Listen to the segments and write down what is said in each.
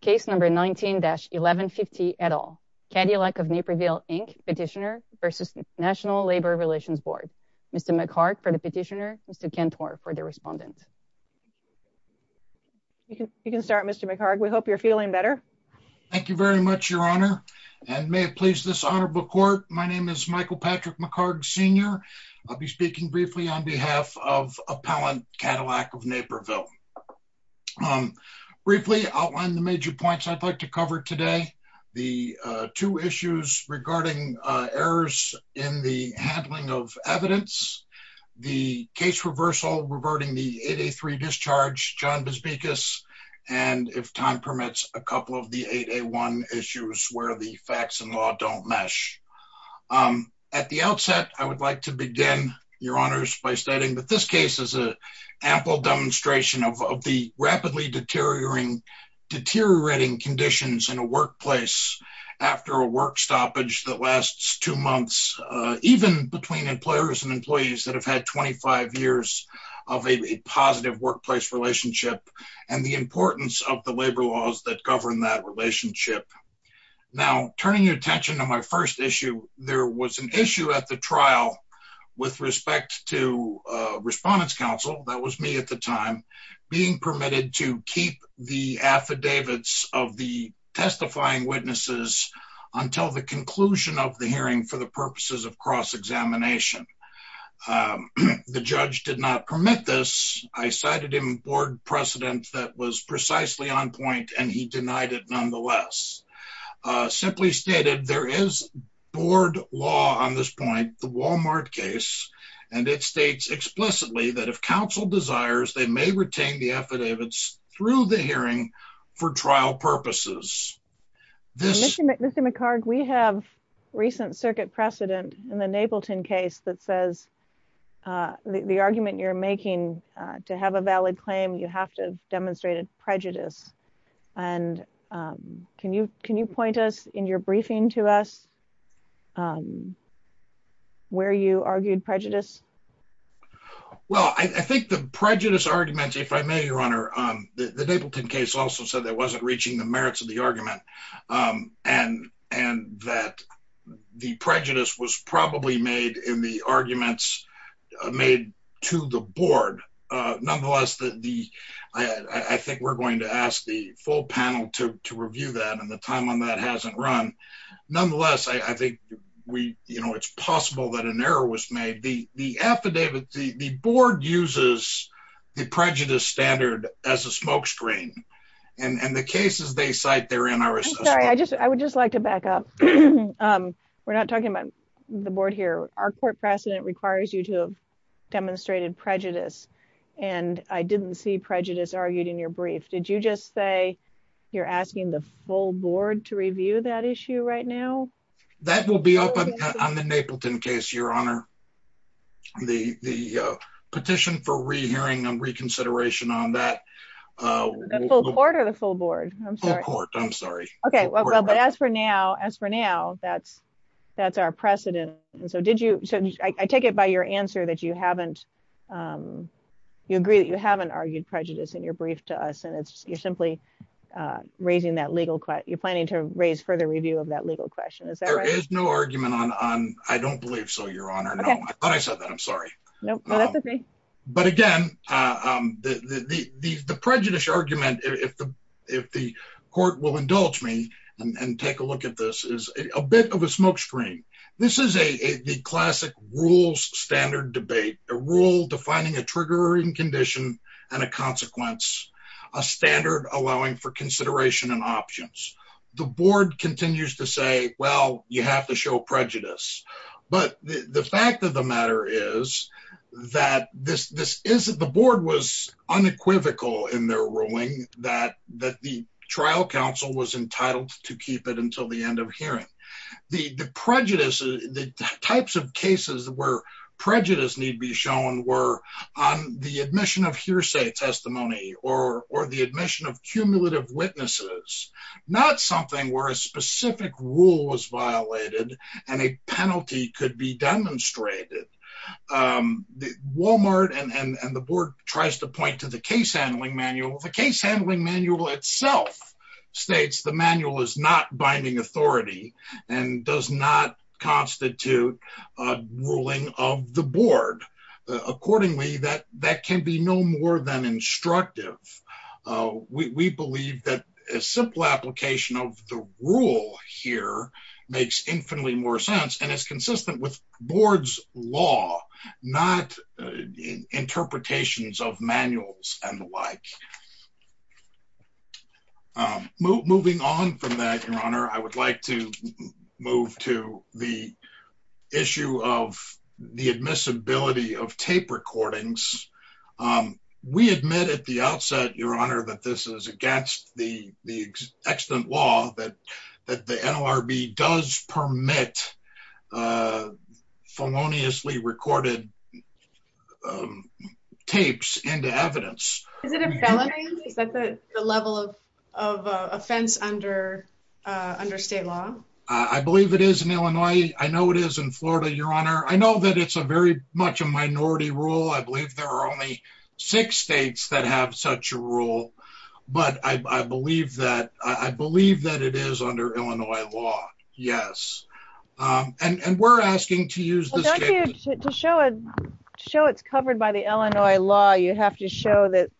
Case number 19-1150 et al. Cadillac of Naperville, Inc. Petitioner versus National Labor Relations Board. Mr. McHarg for the petitioner, Mr. Cantor for the respondent. You can start, Mr. McHarg. We hope you're feeling better. Thank you very much, Your Honor, and may it please this honorable court, my name is Michael Patrick McHarg, Sr. I'll be speaking briefly on behalf of Appellant Cadillac of Naperville. Briefly, I'll outline the major points I'd like to cover today, the two issues regarding errors in the handling of evidence, the case reversal regarding the 8A3 discharge, John Busbikas, and if time permits, a couple of the 8A1 issues where the facts and law don't mesh. At the outset, I would like to begin, Your Honors, by stating that this case is a ample demonstration of the rapidly deteriorating conditions in a workplace after a work stoppage that lasts two months, even between employers and employees that have had 25 years of a positive workplace relationship and the importance of the labor laws that govern that relationship. Now, turning your attention to my first issue, there was an issue at the trial with respect to Respondents Council, that was me at the time, being permitted to keep the affidavits of the testifying witnesses until the conclusion of the hearing for the purposes of cross-examination. The judge did not permit this. I cited him board precedent that was precisely on point, and he denied it nonetheless. Simply stated, there is board law on this point, the Walmart case, and it states explicitly that if counsel desires, they may retain the affidavits through the hearing for trial purposes. Ms. McHarg, we have recent circuit precedent in the Napleton case that says the argument you're making to have a valid claim, you have to demonstrate a prejudice, and can you point us in your briefing to us where you argued prejudice? Well, I think the prejudice argument, if I may, Your Honor, the Napleton case also said that it wasn't reaching the merits of the argument, and that the prejudice was probably in the arguments made to the board. Nonetheless, I think we're going to ask the full panel to review that, and the time on that hasn't run. Nonetheless, I think it's possible that an error was made. The affidavit, the board uses the prejudice standard as a smoke screen, and the cases they cite, they're in our system. I would just like to back up. We're not talking about the board here. Our court precedent requires you to have demonstrated prejudice, and I didn't see prejudice argued in your brief. Did you just say you're asking the full board to review that issue right now? That will be up on the Napleton case, Your Honor. The petition for re-hearing and reconsideration on that- The full court or the full board? Full court, I'm sorry. Okay. As for now, that's our precedent. I take it by your answer that you agree that you haven't argued prejudice in your brief to us, and you're planning to raise further review of that legal question. Is that right? There is no argument on I don't believe so, Your Honor. I thought I said that. I'm sorry. No, that's okay. Again, the prejudice argument, if the court will indulge me and take a look at this, is a bit of a smoke screen. This is the classic rules standard debate, a rule defining a triggering condition and a consequence, a standard allowing for consideration and options. The board continues to say, well, you have to show prejudice. The fact of the matter is that the board was unequivocal in their ruling that the trial counsel was entitled to keep it until the end of hearing. The prejudice, the types of cases where prejudice need be shown were on the admission of hearsay testimony or the admission of cumulative witnesses, not something where a specific rule was violated and a penalty could be demonstrated. Walmart and the board tries to point to the case handling manual. The case handling manual itself states the manual is not binding authority and does not constitute a ruling of the board. Accordingly, that can be no more than instructive. We believe that a simple application of the rule here makes infinitely more sense and is consistent with board's law, not interpretations of manuals and the like. Moving on from that, Your Honor, I would like to move to the issue of the admissibility of tape recordings. We admit at the outset, Your Honor, that this is against the extant law that the NLRB permits feloniously recorded tapes into evidence. Is it a felony? Is that the level of offense under state law? I believe it is in Illinois. I know it is in Florida, Your Honor. I know that it's very much a minority rule. I believe there are only six states that have such a rule, but I believe that it is under Illinois law. Yes, and we're asking to use this. To show it's covered by the Illinois law, you have to show that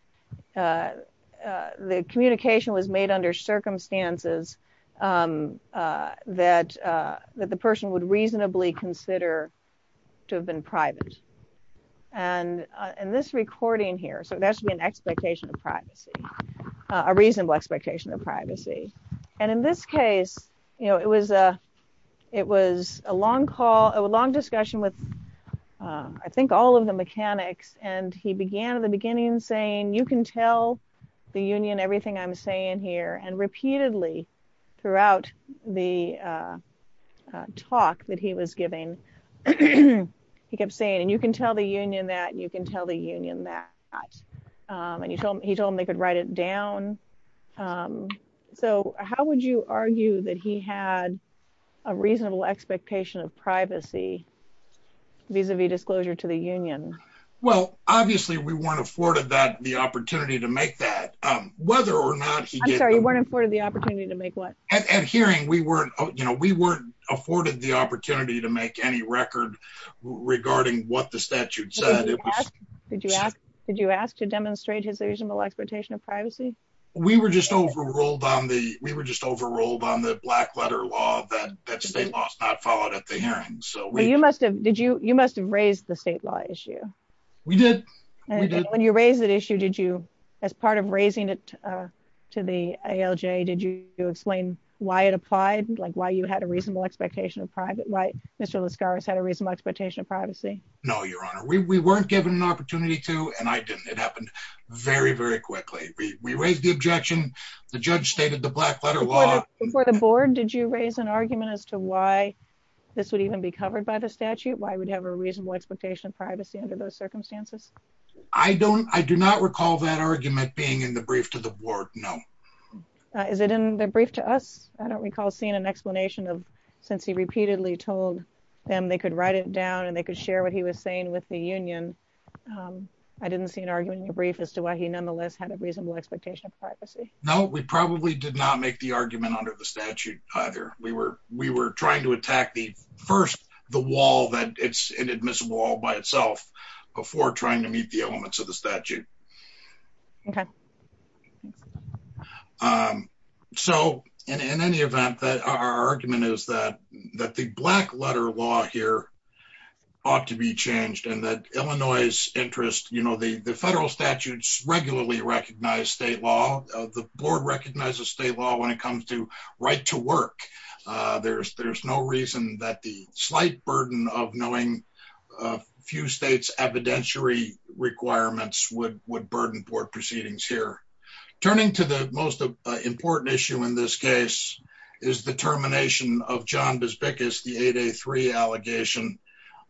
the communication was made under circumstances that the person would reasonably consider to have been private. This recording here, so there should be an expectation of privacy, a reasonable expectation of privacy. In this case, it was a long call, a long discussion with I think all of the mechanics. He began at the beginning saying, you can tell the union everything I'm saying here. Repeatedly throughout the talk that he was giving, he kept saying, and you can tell the union that, you can tell the union that. And he told him they could write it down. So, how would you argue that he had a reasonable expectation of privacy vis-a-vis disclosure to the union? Well, obviously, we weren't afforded the opportunity to make that, whether or not he did. I'm sorry, you weren't afforded the opportunity to make what? At hearing, we weren't afforded the opportunity to make any record regarding what the statute said. Did you ask to demonstrate his reasonable expectation of privacy? We were just overruled on the black letter law that state law is not followed at the hearing. You must have raised the state law issue. We did. When you raised the issue, did you, as part of raising it to the ALJ, did you explain why it applied, why you had a reasonable expectation of privacy, why Mr. Lascaris had a reasonable expectation of privacy? No, Your Honor. We weren't given an opportunity to, and I didn't. It happened very, very quickly. We raised the objection. The judge stated the black letter law. Before the board, did you raise an argument as to why this would even be covered by the statute, why we'd have a reasonable expectation of privacy under those circumstances? I do not recall that argument being in the brief to the board, no. Is it in the brief to us? I don't recall seeing an explanation of, since he repeatedly told them they could write it down and they could share what he was saying with the union. I didn't see an argument in the brief as to why he nonetheless had a reasonable expectation of privacy. No, we probably did not make the argument under the statute either. We were trying to attack the first, the wall, that it's an admissible wall by itself, before trying to meet the elements of the statute. Okay. So, in any event, our argument is that the black letter law here ought to be changed, and that Illinois' interest, you know, the federal statutes regularly recognize state law. The board recognizes state law when it comes to right to work. There's no reason that the would burden board proceedings here. Turning to the most important issue in this case is the termination of John Besbikis, the 8A3 allegation.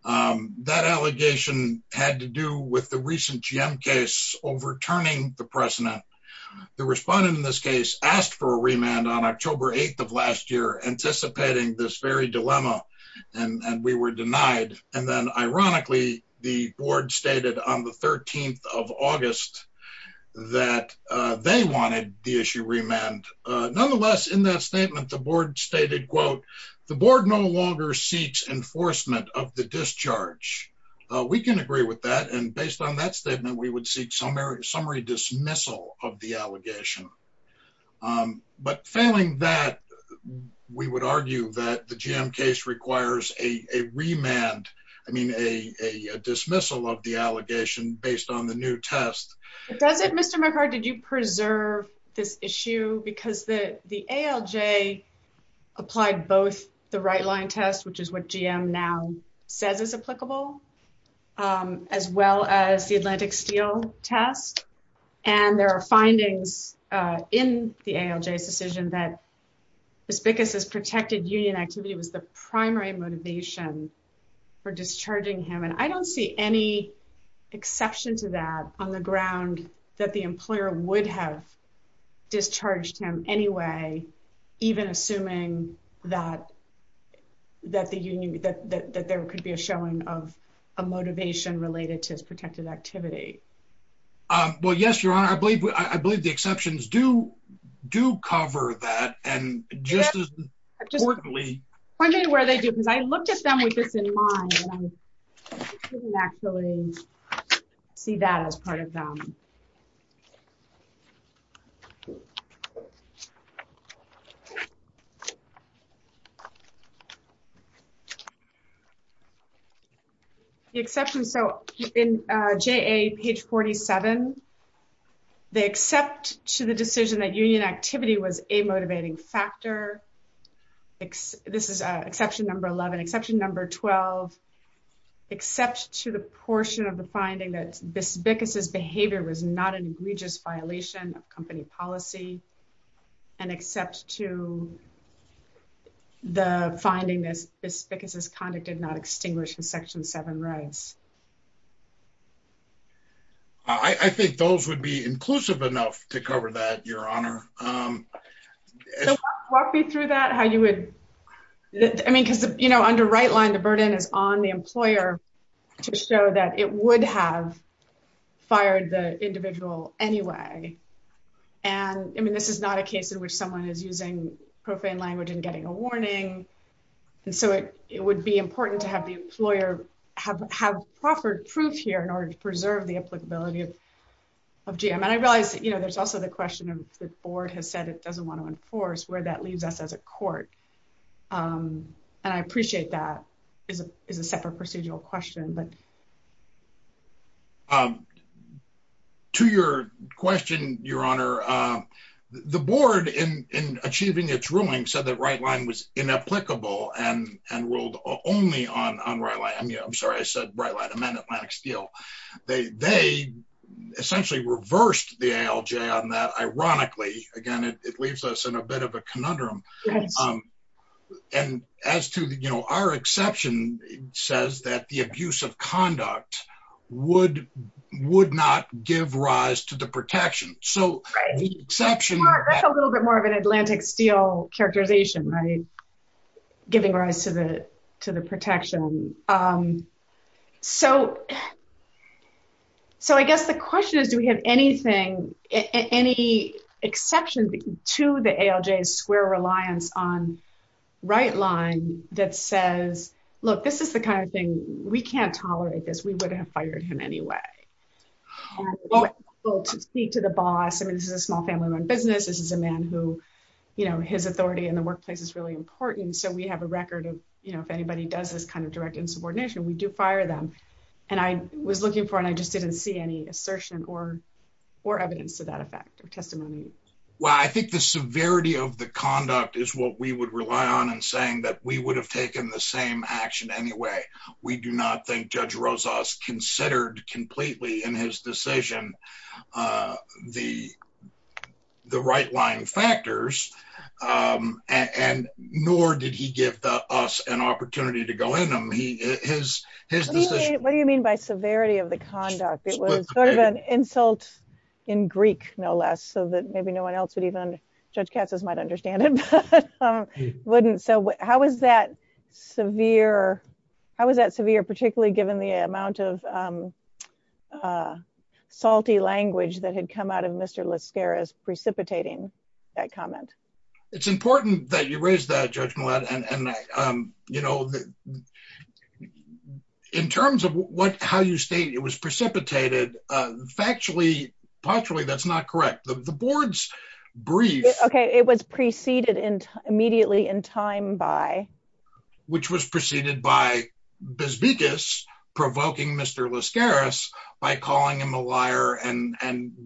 That allegation had to do with the recent GM case overturning the precedent. The respondent in this case asked for a remand on October 8th of last year, anticipating this very dilemma, and we were denied. And then, ironically, the board stated on the 13th of August that they wanted the issue remanded. Nonetheless, in that statement, the board stated, quote, the board no longer seeks enforcement of the discharge. We can agree with that, and based on that statement, we would seek summary dismissal of the allegation. But failing that, we would argue that the GM case requires a remand, I mean, a dismissal of the allegation based on the new test. Mr. McHarg, did you preserve this issue? Because the ALJ applied both the right-line test, which is what GM now says is applicable, as well as the Atlantic Steel test, and there are findings in the ALJ's decision that Besbikis' protected union activity was primary motivation for discharging him. And I don't see any exception to that on the ground that the employer would have discharged him anyway, even assuming that there could be a showing of a motivation related to his protected activity. Well, yes, Your Honor, I believe the exceptions do cover that, and just as importantly... Just point me to where they do, because I looked at them with this in mind, and I didn't actually see that as part of them. The exception... So in JA, page 47, they accept to the decision that union activity was a motivating factor. This is exception number 11. Exception number 12, except to the portion of finding that Besbikis' behavior was not an egregious violation of company policy, and except to the finding that Besbikis' conduct did not extinguish his Section 7 rights. I think those would be inclusive enough to cover that, Your Honor. Walk me through that, how you would... I mean, because under right-line, the burden is on the employer to ensure that he could have fired the individual anyway, and I mean, this is not a case in which someone is using profane language and getting a warning, and so it would be important to have the employer have proffered proof here in order to preserve the applicability of GM. And I realize there's also the question of the board has said it doesn't want to enforce, where that comes from. To your question, Your Honor, the board in achieving its ruling said that right-line was inapplicable and ruled only on right-line. I mean, I'm sorry, I said right-line, I meant Atlantic Steel. They essentially reversed the ALJ on that, ironically. Again, it leaves us in a bit of a would-not-give-rise-to-the-protection. So the exception... Right. That's a little bit more of an Atlantic Steel characterization, right? Giving rise to the protection. So I guess the question is, do we have anything, any exception to the ALJ's square reliance on right-line that says, look, this is the kind of thing, we can't tolerate this, we would have fired him anyway. To speak to the boss, I mean, this is a small family-run business, this is a man who, you know, his authority in the workplace is really important. So we have a record of, you know, if anybody does this kind of direct insubordination, we do fire them. And I was looking for, and I just didn't see any assertion or evidence to that effect or testimony. Well, I think the severity of the conduct is what we would rely on in saying that we would have taken the same action anyway. We do not think Judge Rozas considered completely in his decision the right-line factors, and nor did he give us an opportunity to go in on his decision. What do you mean by severity of the conduct? It was sort of an insult in Greek, no less, so that maybe no one else would even, Judge Katz's might understand it, but wouldn't. So how is that severe? How is that severe, particularly given the amount of salty language that had come out of Mr. Lascaris precipitating that comment? It's important that you raise that, Judge Millett, and, you know, in terms of what, how you state it was precipitated, factually, that's not correct. The board's brief... Okay, it was preceded immediately in time by... Which was preceded by Besbikis provoking Mr. Lascaris by calling him a liar and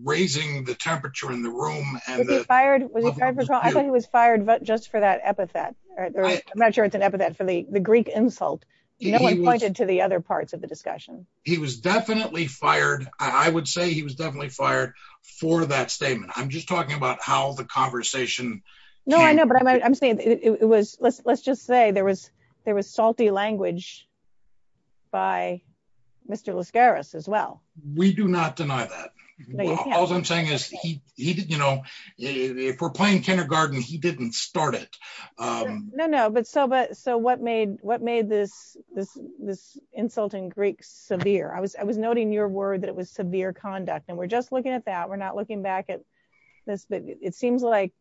raising the temperature in the room. Was he fired? I thought he was fired just for that epithet. I'm not sure it's an epithet for the Greek insult. No one pointed to the other parts of discussion. He was definitely fired. I would say he was definitely fired for that statement. I'm just talking about how the conversation... No, I know, but I'm saying it was, let's just say there was salty language by Mr. Lascaris as well. We do not deny that. All I'm saying is he, you know, if we're playing kindergarten, he didn't start it. No, no, but so what made this insulting Greek severe? I was noting your word that it was severe conduct, and we're just looking at that. We're not looking back at this, but it seems like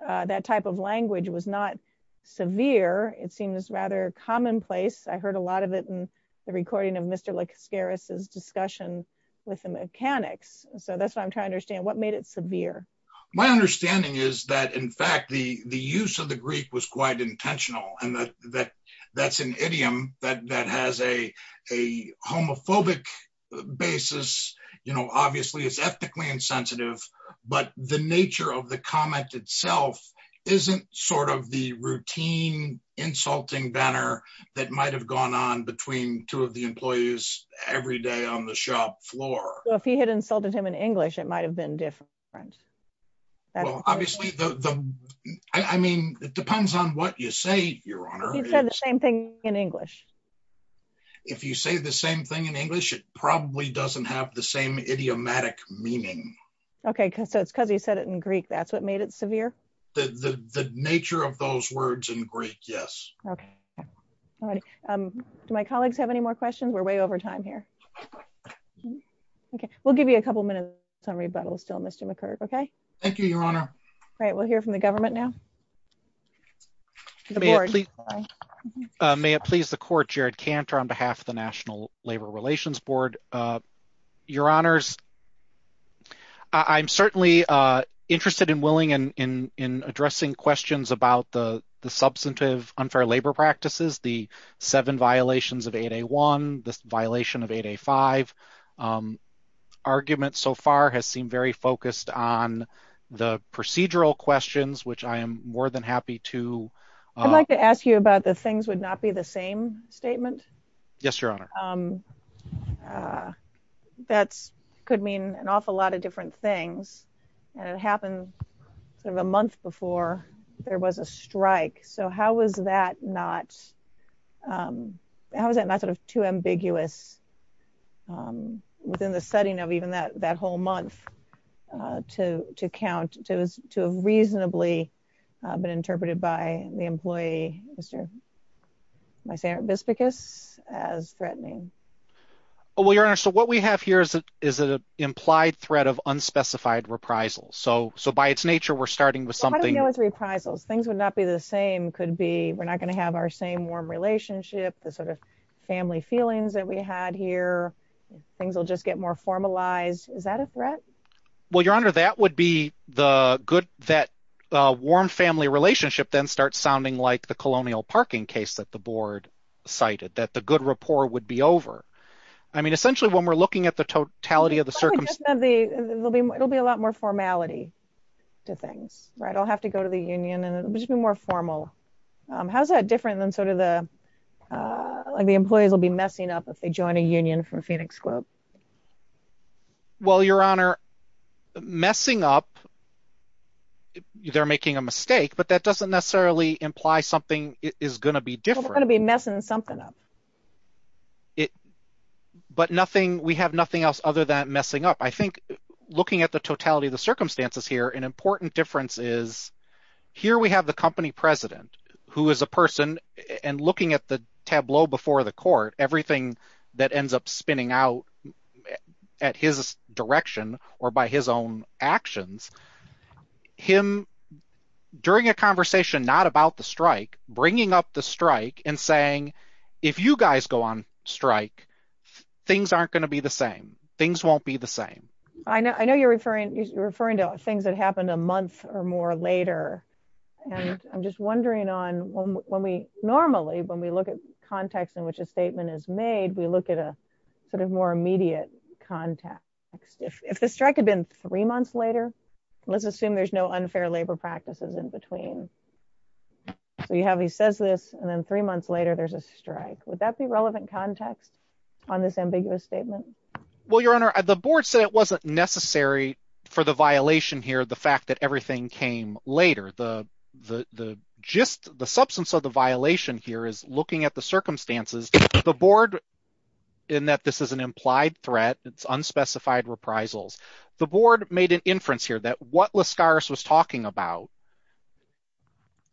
that type of language was not severe. It seems rather commonplace. I heard a lot of it in the recording of Mr. Lascaris's discussion with the mechanics, so that's what I'm trying to understand. What made it severe? My understanding is that, in fact, the use of Greek was quite intentional, and that's an idiom that has a homophobic basis. You know, obviously it's ethically insensitive, but the nature of the comment itself isn't sort of the routine insulting banner that might have gone on between two of the employees every day on the shop floor. If he had insulted him in English, it might have been different. Well, obviously, the, I mean, it depends on what you say, Your Honor. He said the same thing in English. If you say the same thing in English, it probably doesn't have the same idiomatic meaning. Okay, so it's because he said it in Greek. That's what made it severe? The nature of those words in Greek, yes. Okay, all right. Do my colleagues have any more questions? We're way over time here. Okay, we'll give you a couple minutes on rebuttals still, Mr. McCurd, okay? Thank you, Your Honor. Great, we'll hear from the government now. May it please the Court, Jared Cantor on behalf of the National Labor Relations Board. Your Honors, I'm certainly interested and willing in addressing questions about the substantive unfair labor practices, the seven violations of 8A1, the violation of 8A5. The argument so far has seemed very focused on the procedural questions, which I am more than happy to- I'd like to ask you about the things would not be the same statement. Yes, Your Honor. That could mean an awful lot of different things, and it happened sort of a month before there was a strike, so how was that not how was that not sort of too ambiguous within the setting of even that whole month to count, to have reasonably been interpreted by the employee, Mr. Bispicus, as threatening? Well, Your Honor, so what we have here is an implied threat of unspecified reprisals, so by its nature we're starting with something- How do we deal with reprisals? Things would not be the same, could be we're not going to have our same warm relationship, the sort of family feelings that we had here, things will just get more formalized. Is that a threat? Well, Your Honor, that would be the good- that warm family relationship then starts sounding like the colonial parking case that the Board cited, that the good rapport would be over. I mean, essentially when we're looking at the totality of the circumstances- It'll be a lot more formality to things, right? I'll have to go to the union, and it'll just be more formal. How's that different than sort of the employees will be messing up if they join a union from Phoenix Group? Well, Your Honor, messing up, they're making a mistake, but that doesn't necessarily imply something is going to be different. They're going to be messing something up. But nothing, we have nothing else other than messing up. I think looking at the totality of the circumstances here, an important difference is here we have the company president who is a person and looking at the tableau before the court, everything that ends up spinning out at his direction or by his own actions, him during a conversation, not about the strike, bringing up the strike and saying, if you guys go on strike, things aren't going to be the same. Things won't be the same. I know you're referring to things that happened a month or more later. And I'm just wondering on when we normally, when we look at context in which a statement is made, we look at a sort of more immediate context. If the strike had been three months later, let's assume there's no unfair labor practices in between. So you have, he says this, and then three months later, there's a strike. Would that be relevant context on this ambiguous statement? Well, your honor, the board said it wasn't necessary for the violation here. The fact that everything came later, the gist, the substance of the violation here is looking at the circumstances, the board in that this is an implied threat, it's unspecified reprisals. The board made an inference here that what Lascaris was talking about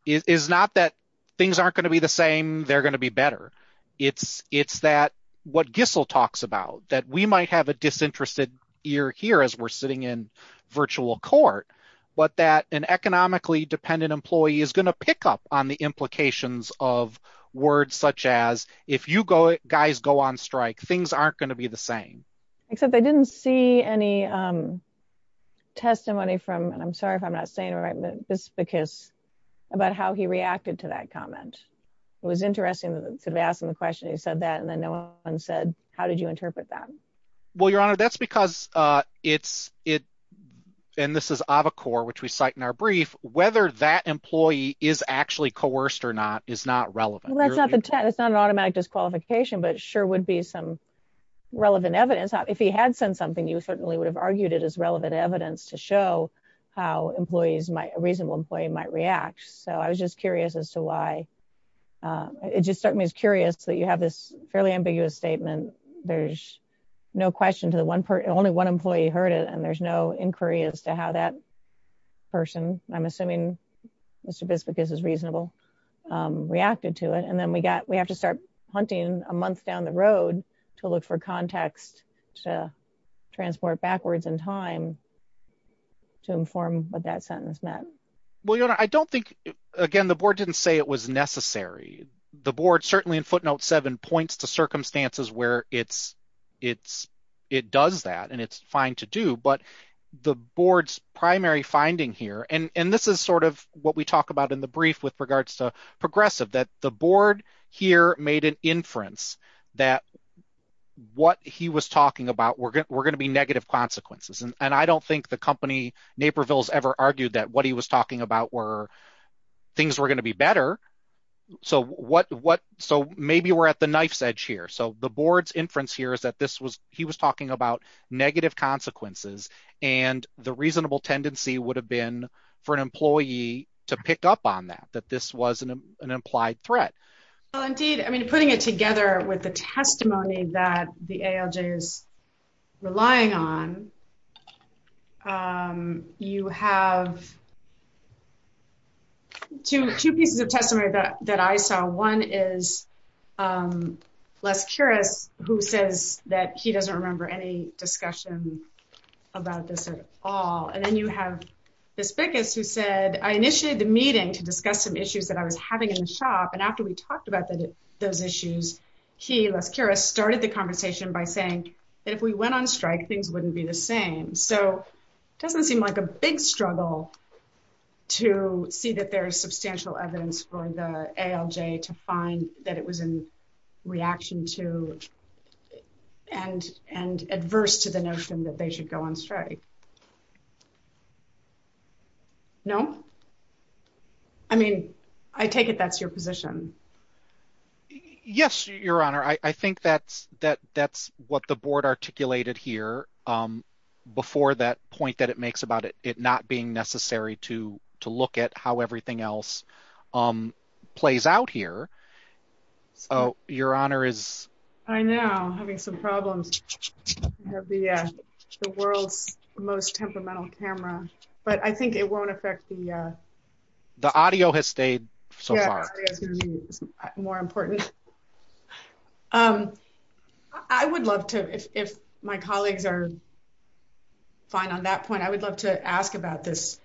is not that things aren't going to be the same. They're going to be better. It's that what Gissel talks about, that we might have a disinterested ear here as we're sitting in virtual court, but that an economically dependent employee is going to pick up on the implications of words such as, if you guys go on strike, things aren't going to be the same. Except they didn't see any testimony from, and I'm sorry if I'm not saying it right, this is about how he reacted to that comment. It was interesting to ask him the question, he said that, and then no one said, how did you interpret that? Well, your honor, that's because it's, and this is Avocor, which we cite in our brief, whether that employee is actually coerced or not is not relevant. That's not the test. It's not an automatic disqualification, but it sure would be some relevant evidence. If he had said something, you certainly would have argued it as relevant evidence to show how employees might, a reasonable employee might react. So I was just curious as to why, it just struck me as curious that you have this fairly ambiguous statement. There's no question to the one person, only one employee heard it, and there's no inquiry as to how that person, I'm assuming Mr. Bispicus is reasonable, reacted to it. And then we got, we have to start hunting a month down the road to look for context to transport backwards in time to inform what that sentence meant. Well, your honor, I don't think, again, the board didn't say it was necessary. The board certainly in footnote seven points to circumstances where it does that and it's fine to do, but the board's primary finding here, and this is sort of what we talk about in the brief with the board here made an inference that what he was talking about were going to be negative consequences. And I don't think the company Naperville has ever argued that what he was talking about were things were going to be better. So what, so maybe we're at the knife's edge here. So the board's inference here is that this was, he was talking about negative consequences and the reasonable tendency would have been for an employee to pick up on that, that this was an implied threat. Well, indeed, I mean, putting it together with the testimony that the ALJ is relying on, you have two pieces of testimony that I saw. One is Les Curris, who says that he doesn't remember any discussion about this at all. And then you have Bispicus who said, I initiated the meeting to discuss some issues that I was having in the shop. And after we talked about those issues, he, Les Curris, started the conversation by saying that if we went on strike, things wouldn't be the same. So it doesn't seem like a big struggle to see that there's substantial evidence for the ALJ to find that it was in reaction to and adverse to the notion that they should go on strike. No? I mean, I take it that's your position. Yes, Your Honor. I think that's what the board articulated here before that point that it makes about it not being necessary to look at how everything else plays out here. Oh, Your Honor is... I know, having some problems. We have the world's most temperamental camera, but I think it won't affect the... The audio has stayed so far. It's more important. I would love to, if my colleagues are fine on that point, I would love to ask about this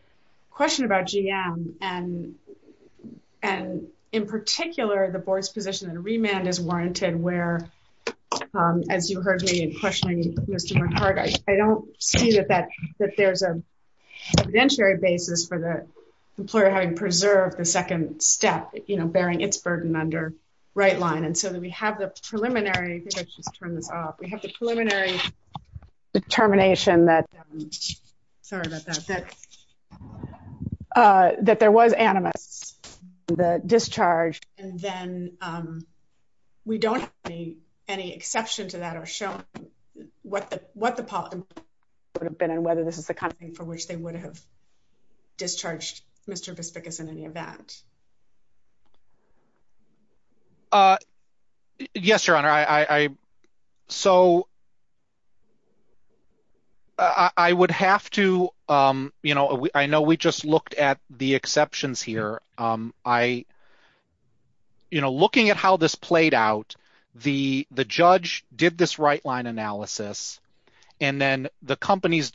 and, in particular, the board's position that a remand is warranted where, as you heard me in questioning Mr. McCarty, I don't see that there's an evidentiary basis for the employer having preserved the second step, bearing its burden under right line. And so that we have the preliminary... I think I should just turn this off. We have the preliminary determination that... Sorry about that. That there was animus in the discharge and then we don't have any exception to that or showing what the policy would have been and whether this is the kind of thing for which they would have discharged Mr. Bespikas in any event. Yes, Your Honor. I would have to... I know we just looked at the exceptions here. Looking at how this played out, the judge did this right line analysis and then the company's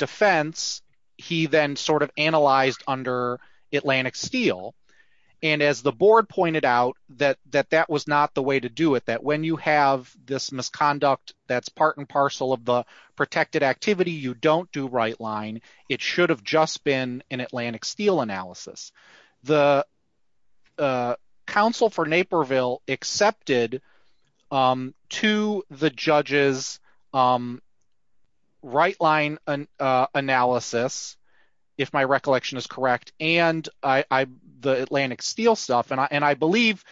and as the board pointed out that that was not the way to do it, that when you have this misconduct that's part and parcel of the protected activity, you don't do right line. It should have just been an Atlantic Steel analysis. The counsel for Naperville accepted to the judge's right line analysis, if my recollection is correct, and the Atlantic Steel stuff. And I believe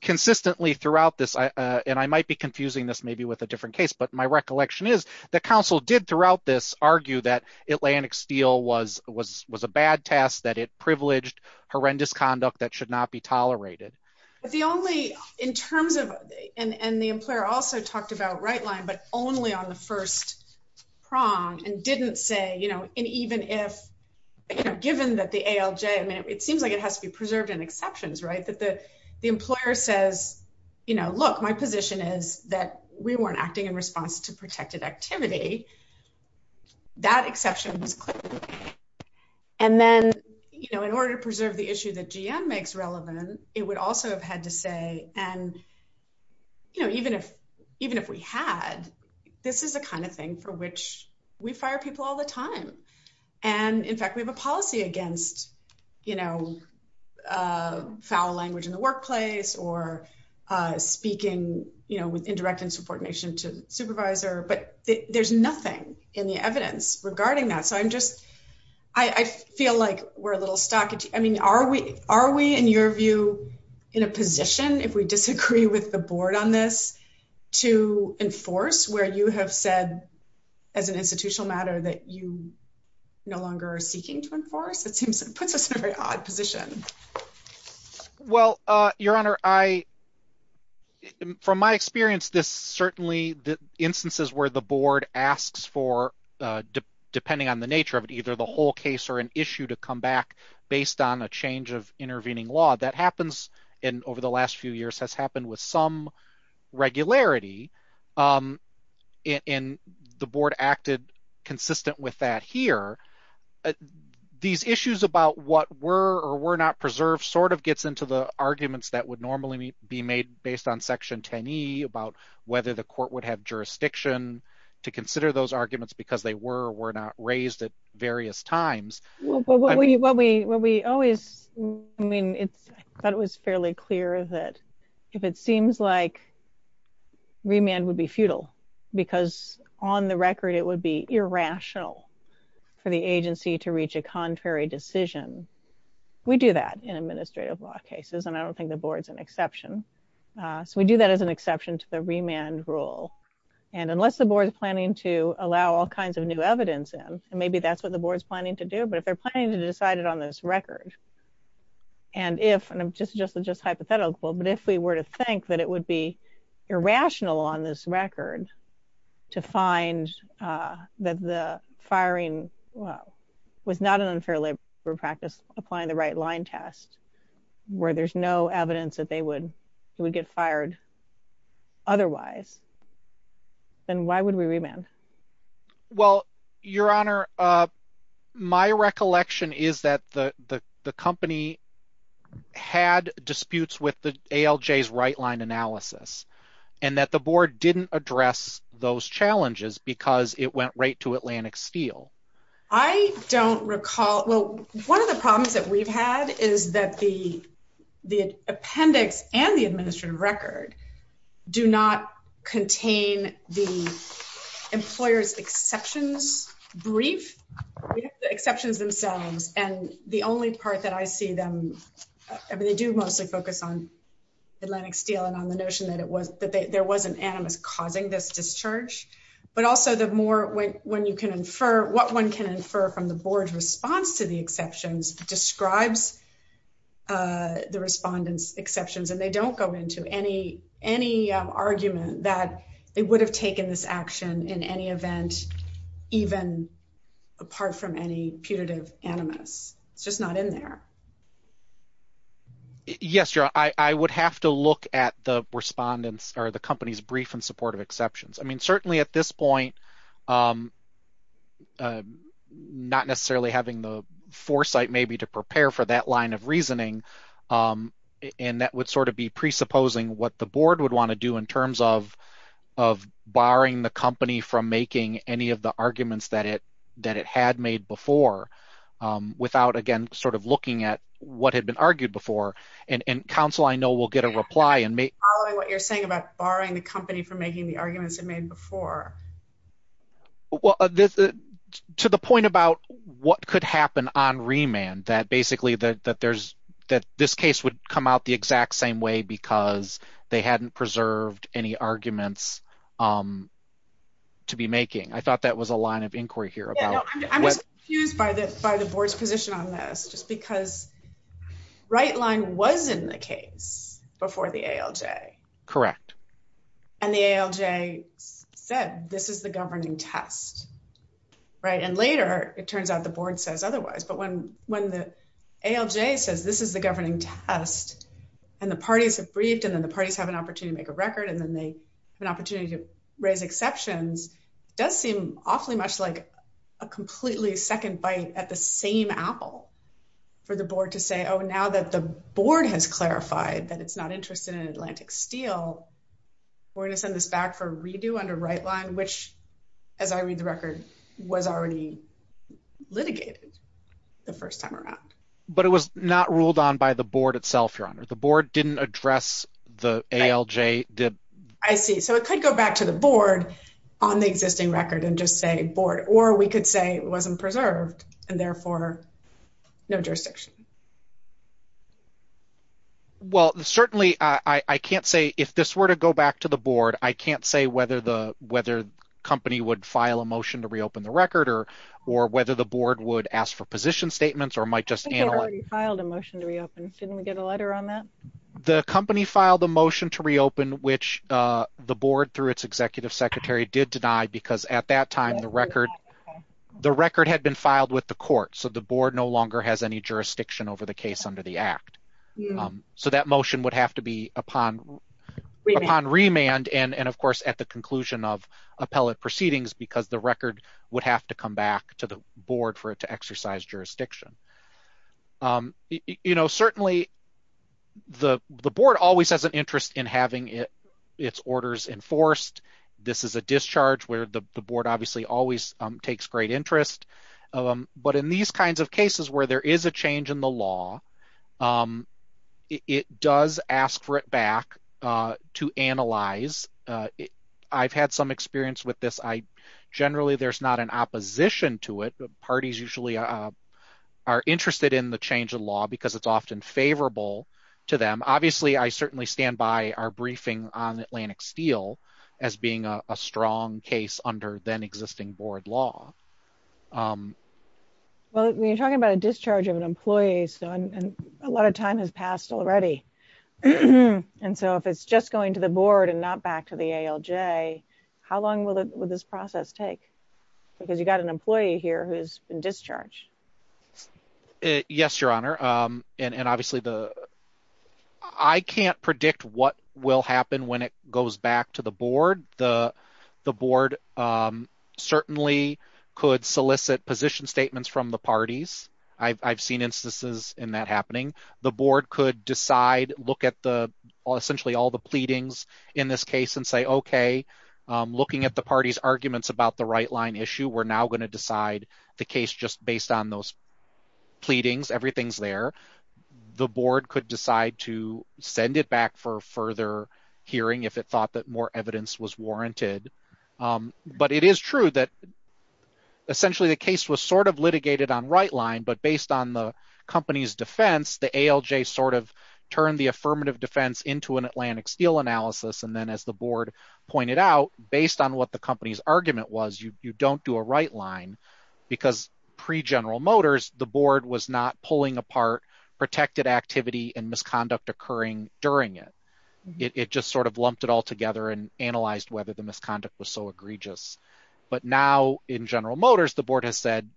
consistently throughout this, and I might be confusing this maybe with a different case, but my recollection is the counsel did throughout this argue that Atlantic Steel was a bad task, that it privileged horrendous conduct that should be tolerated. But the only... In terms of... And the employer also talked about right line, but only on the first prong and didn't say, and even if... Given that the ALJ, I mean, it seems like it has to be preserved in exceptions, right? That the employer says, look, my position is that we weren't acting in response to protected activity. That exception was clear. And then in order to preserve the issue that GM makes relevant, it would also have had to say, and even if we had, this is the kind of thing for which we fire people all the time. And in fact, we have a policy against foul language in the workplace or speaking with indirect insubordination to supervisor, but there's nothing in the evidence regarding that. So I'm just... I feel like we're a little stuck. I mean, are we in your view, in a position, if we disagree with the board on this, to enforce where you have said as an institutional matter that you no longer are seeking to enforce? It puts us in a very uncertain position. From my experience, this certainly, the instances where the board asks for, depending on the nature of it, either the whole case or an issue to come back based on a change of intervening law, that happens. And over the last few years has happened with some regularity. And the board acted consistent with that here. These issues about what were or were not preserved sort of gets into the arguments that would normally be made based on section 10E about whether the court would have jurisdiction to consider those arguments because they were or were not raised at various times. Well, but what we always... I mean, I thought it was fairly clear that if it seems like remand would be futile, because on the record, it would be irrational for the agency to reach a contrary decision. We do that in administrative law cases, and I don't think the board's an exception. So we do that as an exception to the remand rule. And unless the board is planning to allow all kinds of new evidence in, and maybe that's what the board's planning to do, but if they're planning to decide it on this record, and if, and I'm just hypothetical, but if we were to think that it would be irrational on this record to find that the firing well, was not an unfair labor practice applying the right line test, where there's no evidence that they would get fired otherwise, then why would we remand? Well, Your Honor, my recollection is that the company had disputes with the ALJ's right line analysis, and that the board didn't address those challenges because it went right to Atlantic Steel. I don't recall, well, one of the problems that we've had is that the appendix and the administrative record do not contain the employer's exceptions brief, the exceptions themselves, and the only part that I see them, I mean, they do mostly focus on Atlantic Steel and on the notion that it was, that there was an animus causing this discharge, but also the more when you can infer what one can infer from the board's response to the exceptions describes the respondents' exceptions, and they don't go into any argument that they would have taken this action in any event, even apart from any putative animus. It's just not in there. Yes, Your Honor, I would have to look at the respondents or the company's brief in support of exceptions. I mean, certainly at this point, not necessarily having the foresight maybe to prepare for that line of reasoning, and that would sort of be presupposing what the board would want to do in terms of barring the company from making any of the arguments that it had made before without, again, sort of looking at what had been argued before, and counsel I know will get a before. Well, to the point about what could happen on remand, that basically that there's, that this case would come out the exact same way because they hadn't preserved any arguments to be making. I thought that was a line of inquiry here. I'm just confused by the board's position on this, just because Rightline was in the case before the ALJ. Correct. And the ALJ said this is the governing test, right? And later, it turns out the board says otherwise, but when the ALJ says this is the governing test, and the parties have briefed, and then the parties have an opportunity to make a record, and then they have an opportunity to raise exceptions, it does seem awfully much like a completely second bite at the same apple for the board to say, oh, now that the board has clarified that it's not interested in Atlantic Steel, we're going to send this back for redo under Rightline, which, as I read the record, was already litigated the first time around. But it was not ruled on by the board itself, Your Honor. The board didn't address the ALJ. I see. So it could go back to the board on the existing record and just say board, or we could say it wasn't preserved, and therefore, no jurisdiction. Well, certainly, I can't say if this were to go back to the board, I can't say whether the whether company would file a motion to reopen the record or, or whether the board would ask for position statements or might just file the motion to reopen, shouldn't we get a letter on The company filed a motion to reopen, which the board through its executive secretary did deny, because at that time, the record, the record had been filed with the court. So the board no longer has any jurisdiction over the case under the act. So that motion would have to be upon, upon remand. And of course, at the conclusion of appellate proceedings, because the record would have to come back to the board for it to exercise jurisdiction. You know, certainly, the, the board always has an interest in having it, its orders enforced. This is a discharge where the board obviously always takes great interest. But in these kinds of cases where there is a change in the law, it does ask for it back to analyze. I've had some experience with this. I generally there's an opposition to it, but parties usually are interested in the change of law because it's often favorable to them. Obviously, I certainly stand by our briefing on Atlantic Steel, as being a strong case under then existing board law. Well, we're talking about a discharge of an employee. So a lot of time has passed already. And so if it's just going to the board and not back to the ALJ, how long will this process take? Because you got an employee here who's been discharged. Yes, Your Honor. And obviously the, I can't predict what will happen when it goes back to the board. The board certainly could solicit position statements from the parties. I've seen instances in that happening. The board could decide, look at the essentially all the pleadings in this case and say, okay, looking at the party's arguments about the right line issue, we're now going to decide the case just based on those pleadings. Everything's there. The board could decide to send it back for further hearing if it thought that more evidence was warranted. But it is true that essentially the case was sort of litigated on right line, but based on the company's defense, the ALJ sort of turned the affirmative defense into an Atlantic analysis. And then as the board pointed out, based on what the company's argument was, you don't do a right line because pre-General Motors, the board was not pulling apart protected activity and misconduct occurring during it. It just sort of lumped it all together and analyzed whether the misconduct was so egregious. But now in General Motors, the board has said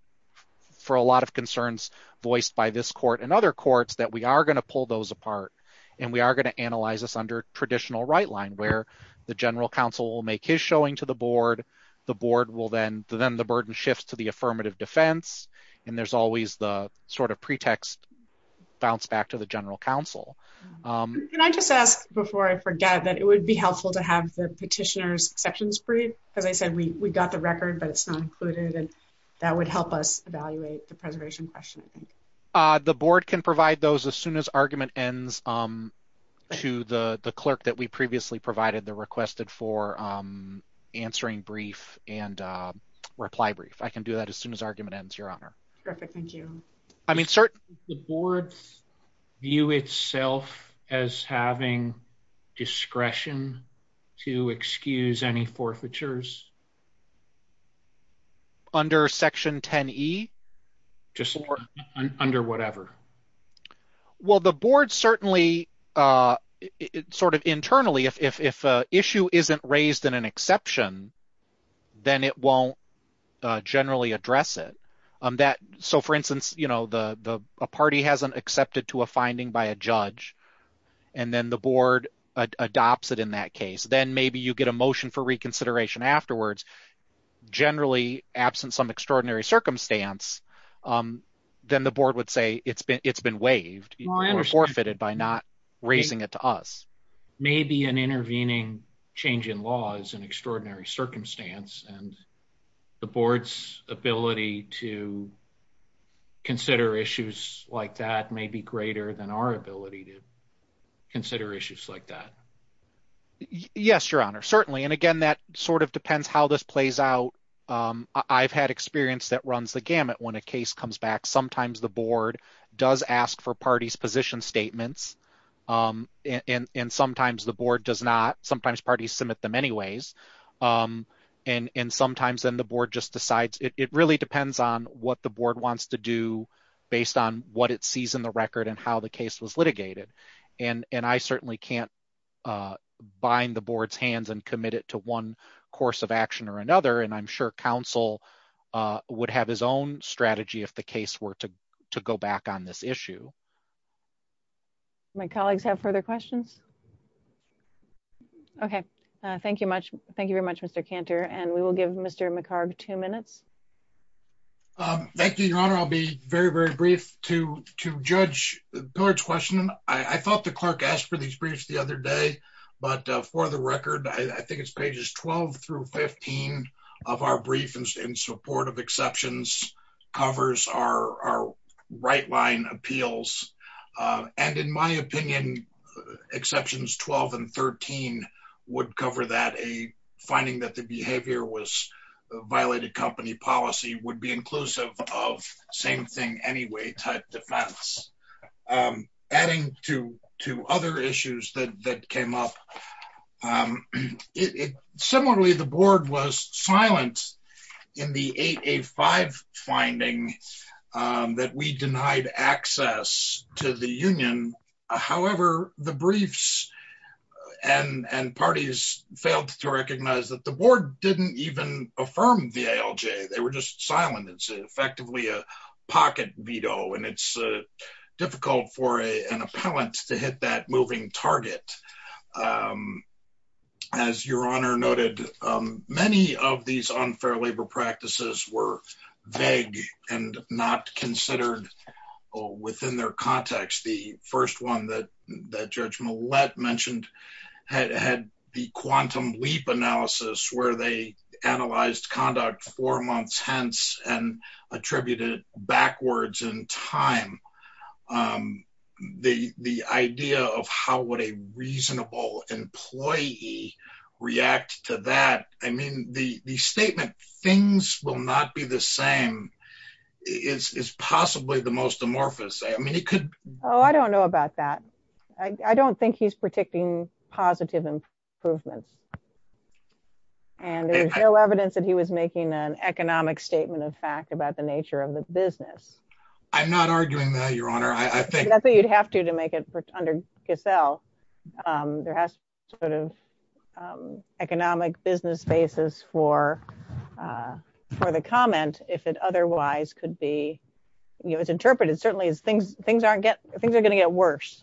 for a lot of concerns voiced by this court and other courts that we are going to pull those apart. And we are going to analyze this under traditional right line where the General Counsel will make his showing to the board. The board will then, then the burden shifts to the affirmative defense. And there's always the sort of pretext bounce back to the General Counsel. Can I just ask before I forget that it would be helpful to have the petitioner's sections brief? As I said, we got the record, but it's not included. And that would help us evaluate the preservation question, I think. The board can provide those as soon as argument ends to the clerk that we previously provided the requested for answering brief and reply brief. I can do that as soon as argument ends, Your Honor. Perfect. Thank you. I mean, sir, the board's view itself as having discretion to excuse any forfeitures. Under Section 10E? Just under whatever. Well, the board certainly, sort of internally, if issue isn't raised in an exception, then it won't generally address it. So for instance, you know, a party hasn't accepted to a finding by a judge, and then the board adopts it in that case, then maybe you get a motion for generally absent some extraordinary circumstance, then the board would say it's been waived or forfeited by not raising it to us. Maybe an intervening change in law is an extraordinary circumstance, and the board's ability to consider issues like that may be greater than our ability to consider issues like that. Yes, Your Honor, certainly. And again, that sort of depends how this plays out. I've had experience that runs the gamut when a case comes back. Sometimes the board does ask for parties' position statements, and sometimes the board does not. Sometimes parties submit them anyways. And sometimes then the board just decides. It really depends on what the board wants to do based on what it sees in the record and how the case was litigated. And I certainly can't bind the board's hands and commit it to one course of action or another, and I'm sure counsel would have his own strategy if the case were to go back on this issue. My colleagues have further questions? Okay. Thank you very much, Mr. Cantor. And we will give Mr. McHarg two minutes. Thank you, Your Honor. I'll be very, I thought the clerk asked for these briefs the other day, but for the record, I think it's pages 12 through 15 of our brief in support of exceptions covers our right-line appeals. And in my opinion, exceptions 12 and 13 would cover that, a finding that the behavior was violated company policy would be inclusive of same-thing-anyway type defense. Adding to other issues that came up. Similarly, the board was silent in the 8A5 finding that we denied access to the union. However, the briefs and parties failed to recognize that the board didn't even affirm the ALJ. They were just silent. It's effectively a pocket veto, and it's difficult for an appellant to hit that moving target. As Your Honor noted, many of these unfair labor practices were vague and not considered within their context. The first one that Judge Millett mentioned had the quantum leap analysis where they analyzed conduct four months and attributed it backwards in time. The idea of how would a reasonable employee react to that, I mean, the statement things will not be the same is possibly the most amorphous. I don't know about that. I don't think he's predicting positive improvements. And there's no evidence that he was making an economic statement of fact about the nature of the business. I'm not arguing that, Your Honor. I think you'd have to make it under Giselle. There has to be an economic business basis for the comment. If it otherwise could be, you know, it's interpreted certainly as things are going to get worse.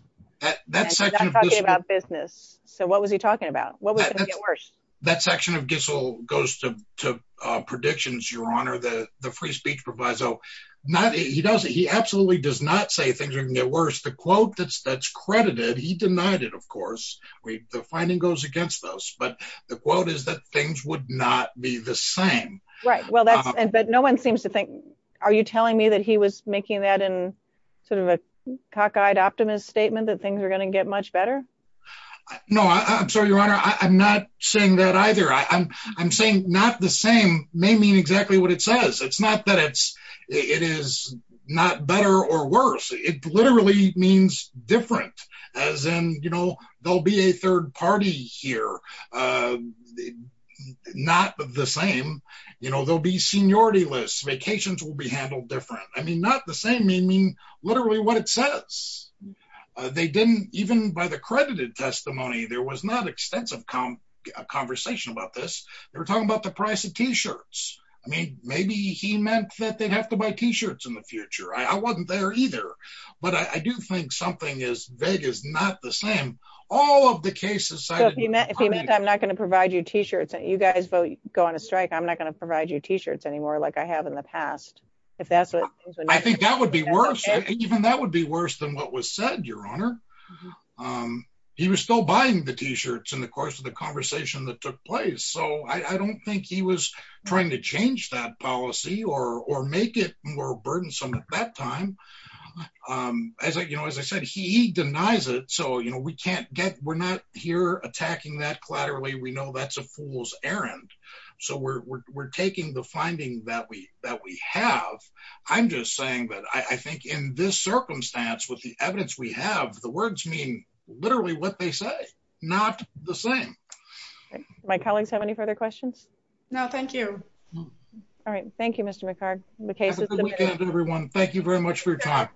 That's not talking about business. So what was he talking about? What was going to get worse? That section of Giselle goes to predictions, Your Honor. The free speech proviso. He absolutely does not say things are going to get worse. The quote that's credited, he denied it, of course. The finding goes against those. But the quote is that things would not be the same. Right. But no one seems to think, are you telling me that he was making that in sort of a cockeyed optimist statement that things are going to get much better? No, I'm sorry, Your Honor. I'm not saying that either. I'm saying not the same may mean exactly what it says. It's not that it is not better or worse. It literally means different, as in, you know, there'll be a third party here. Not the same. You know, there'll be seniority lists, vacations will be handled different. I mean, not the same may mean literally what it says. They didn't, even by the credited testimony, there was not extensive conversation about this. They were talking about the price of T-shirts. I mean, maybe he meant that they'd have to buy T-shirts in the future. I wasn't there either. But I do think something is vague, is not the same. All of the cases- So if he meant I'm not going to provide you T-shirts, you guys vote go on a strike, I'm not going to provide you T-shirts anymore like I have in the Your Honor. He was still buying the T-shirts in the course of the conversation that took place. So I don't think he was trying to change that policy or make it more burdensome at that time. As I, you know, as I said, he denies it. So you know, we can't get we're not here attacking that collaterally. We know that's a fool's errand. So we're taking the finding that we that we have. I'm just saying that I think in this circumstance with the evidence we have, the words mean literally what they say, not the same. My colleagues have any further questions? No, thank you. All right. Thank you, Mr. McHarg. Have a good weekend, everyone. Thank you very much for your time.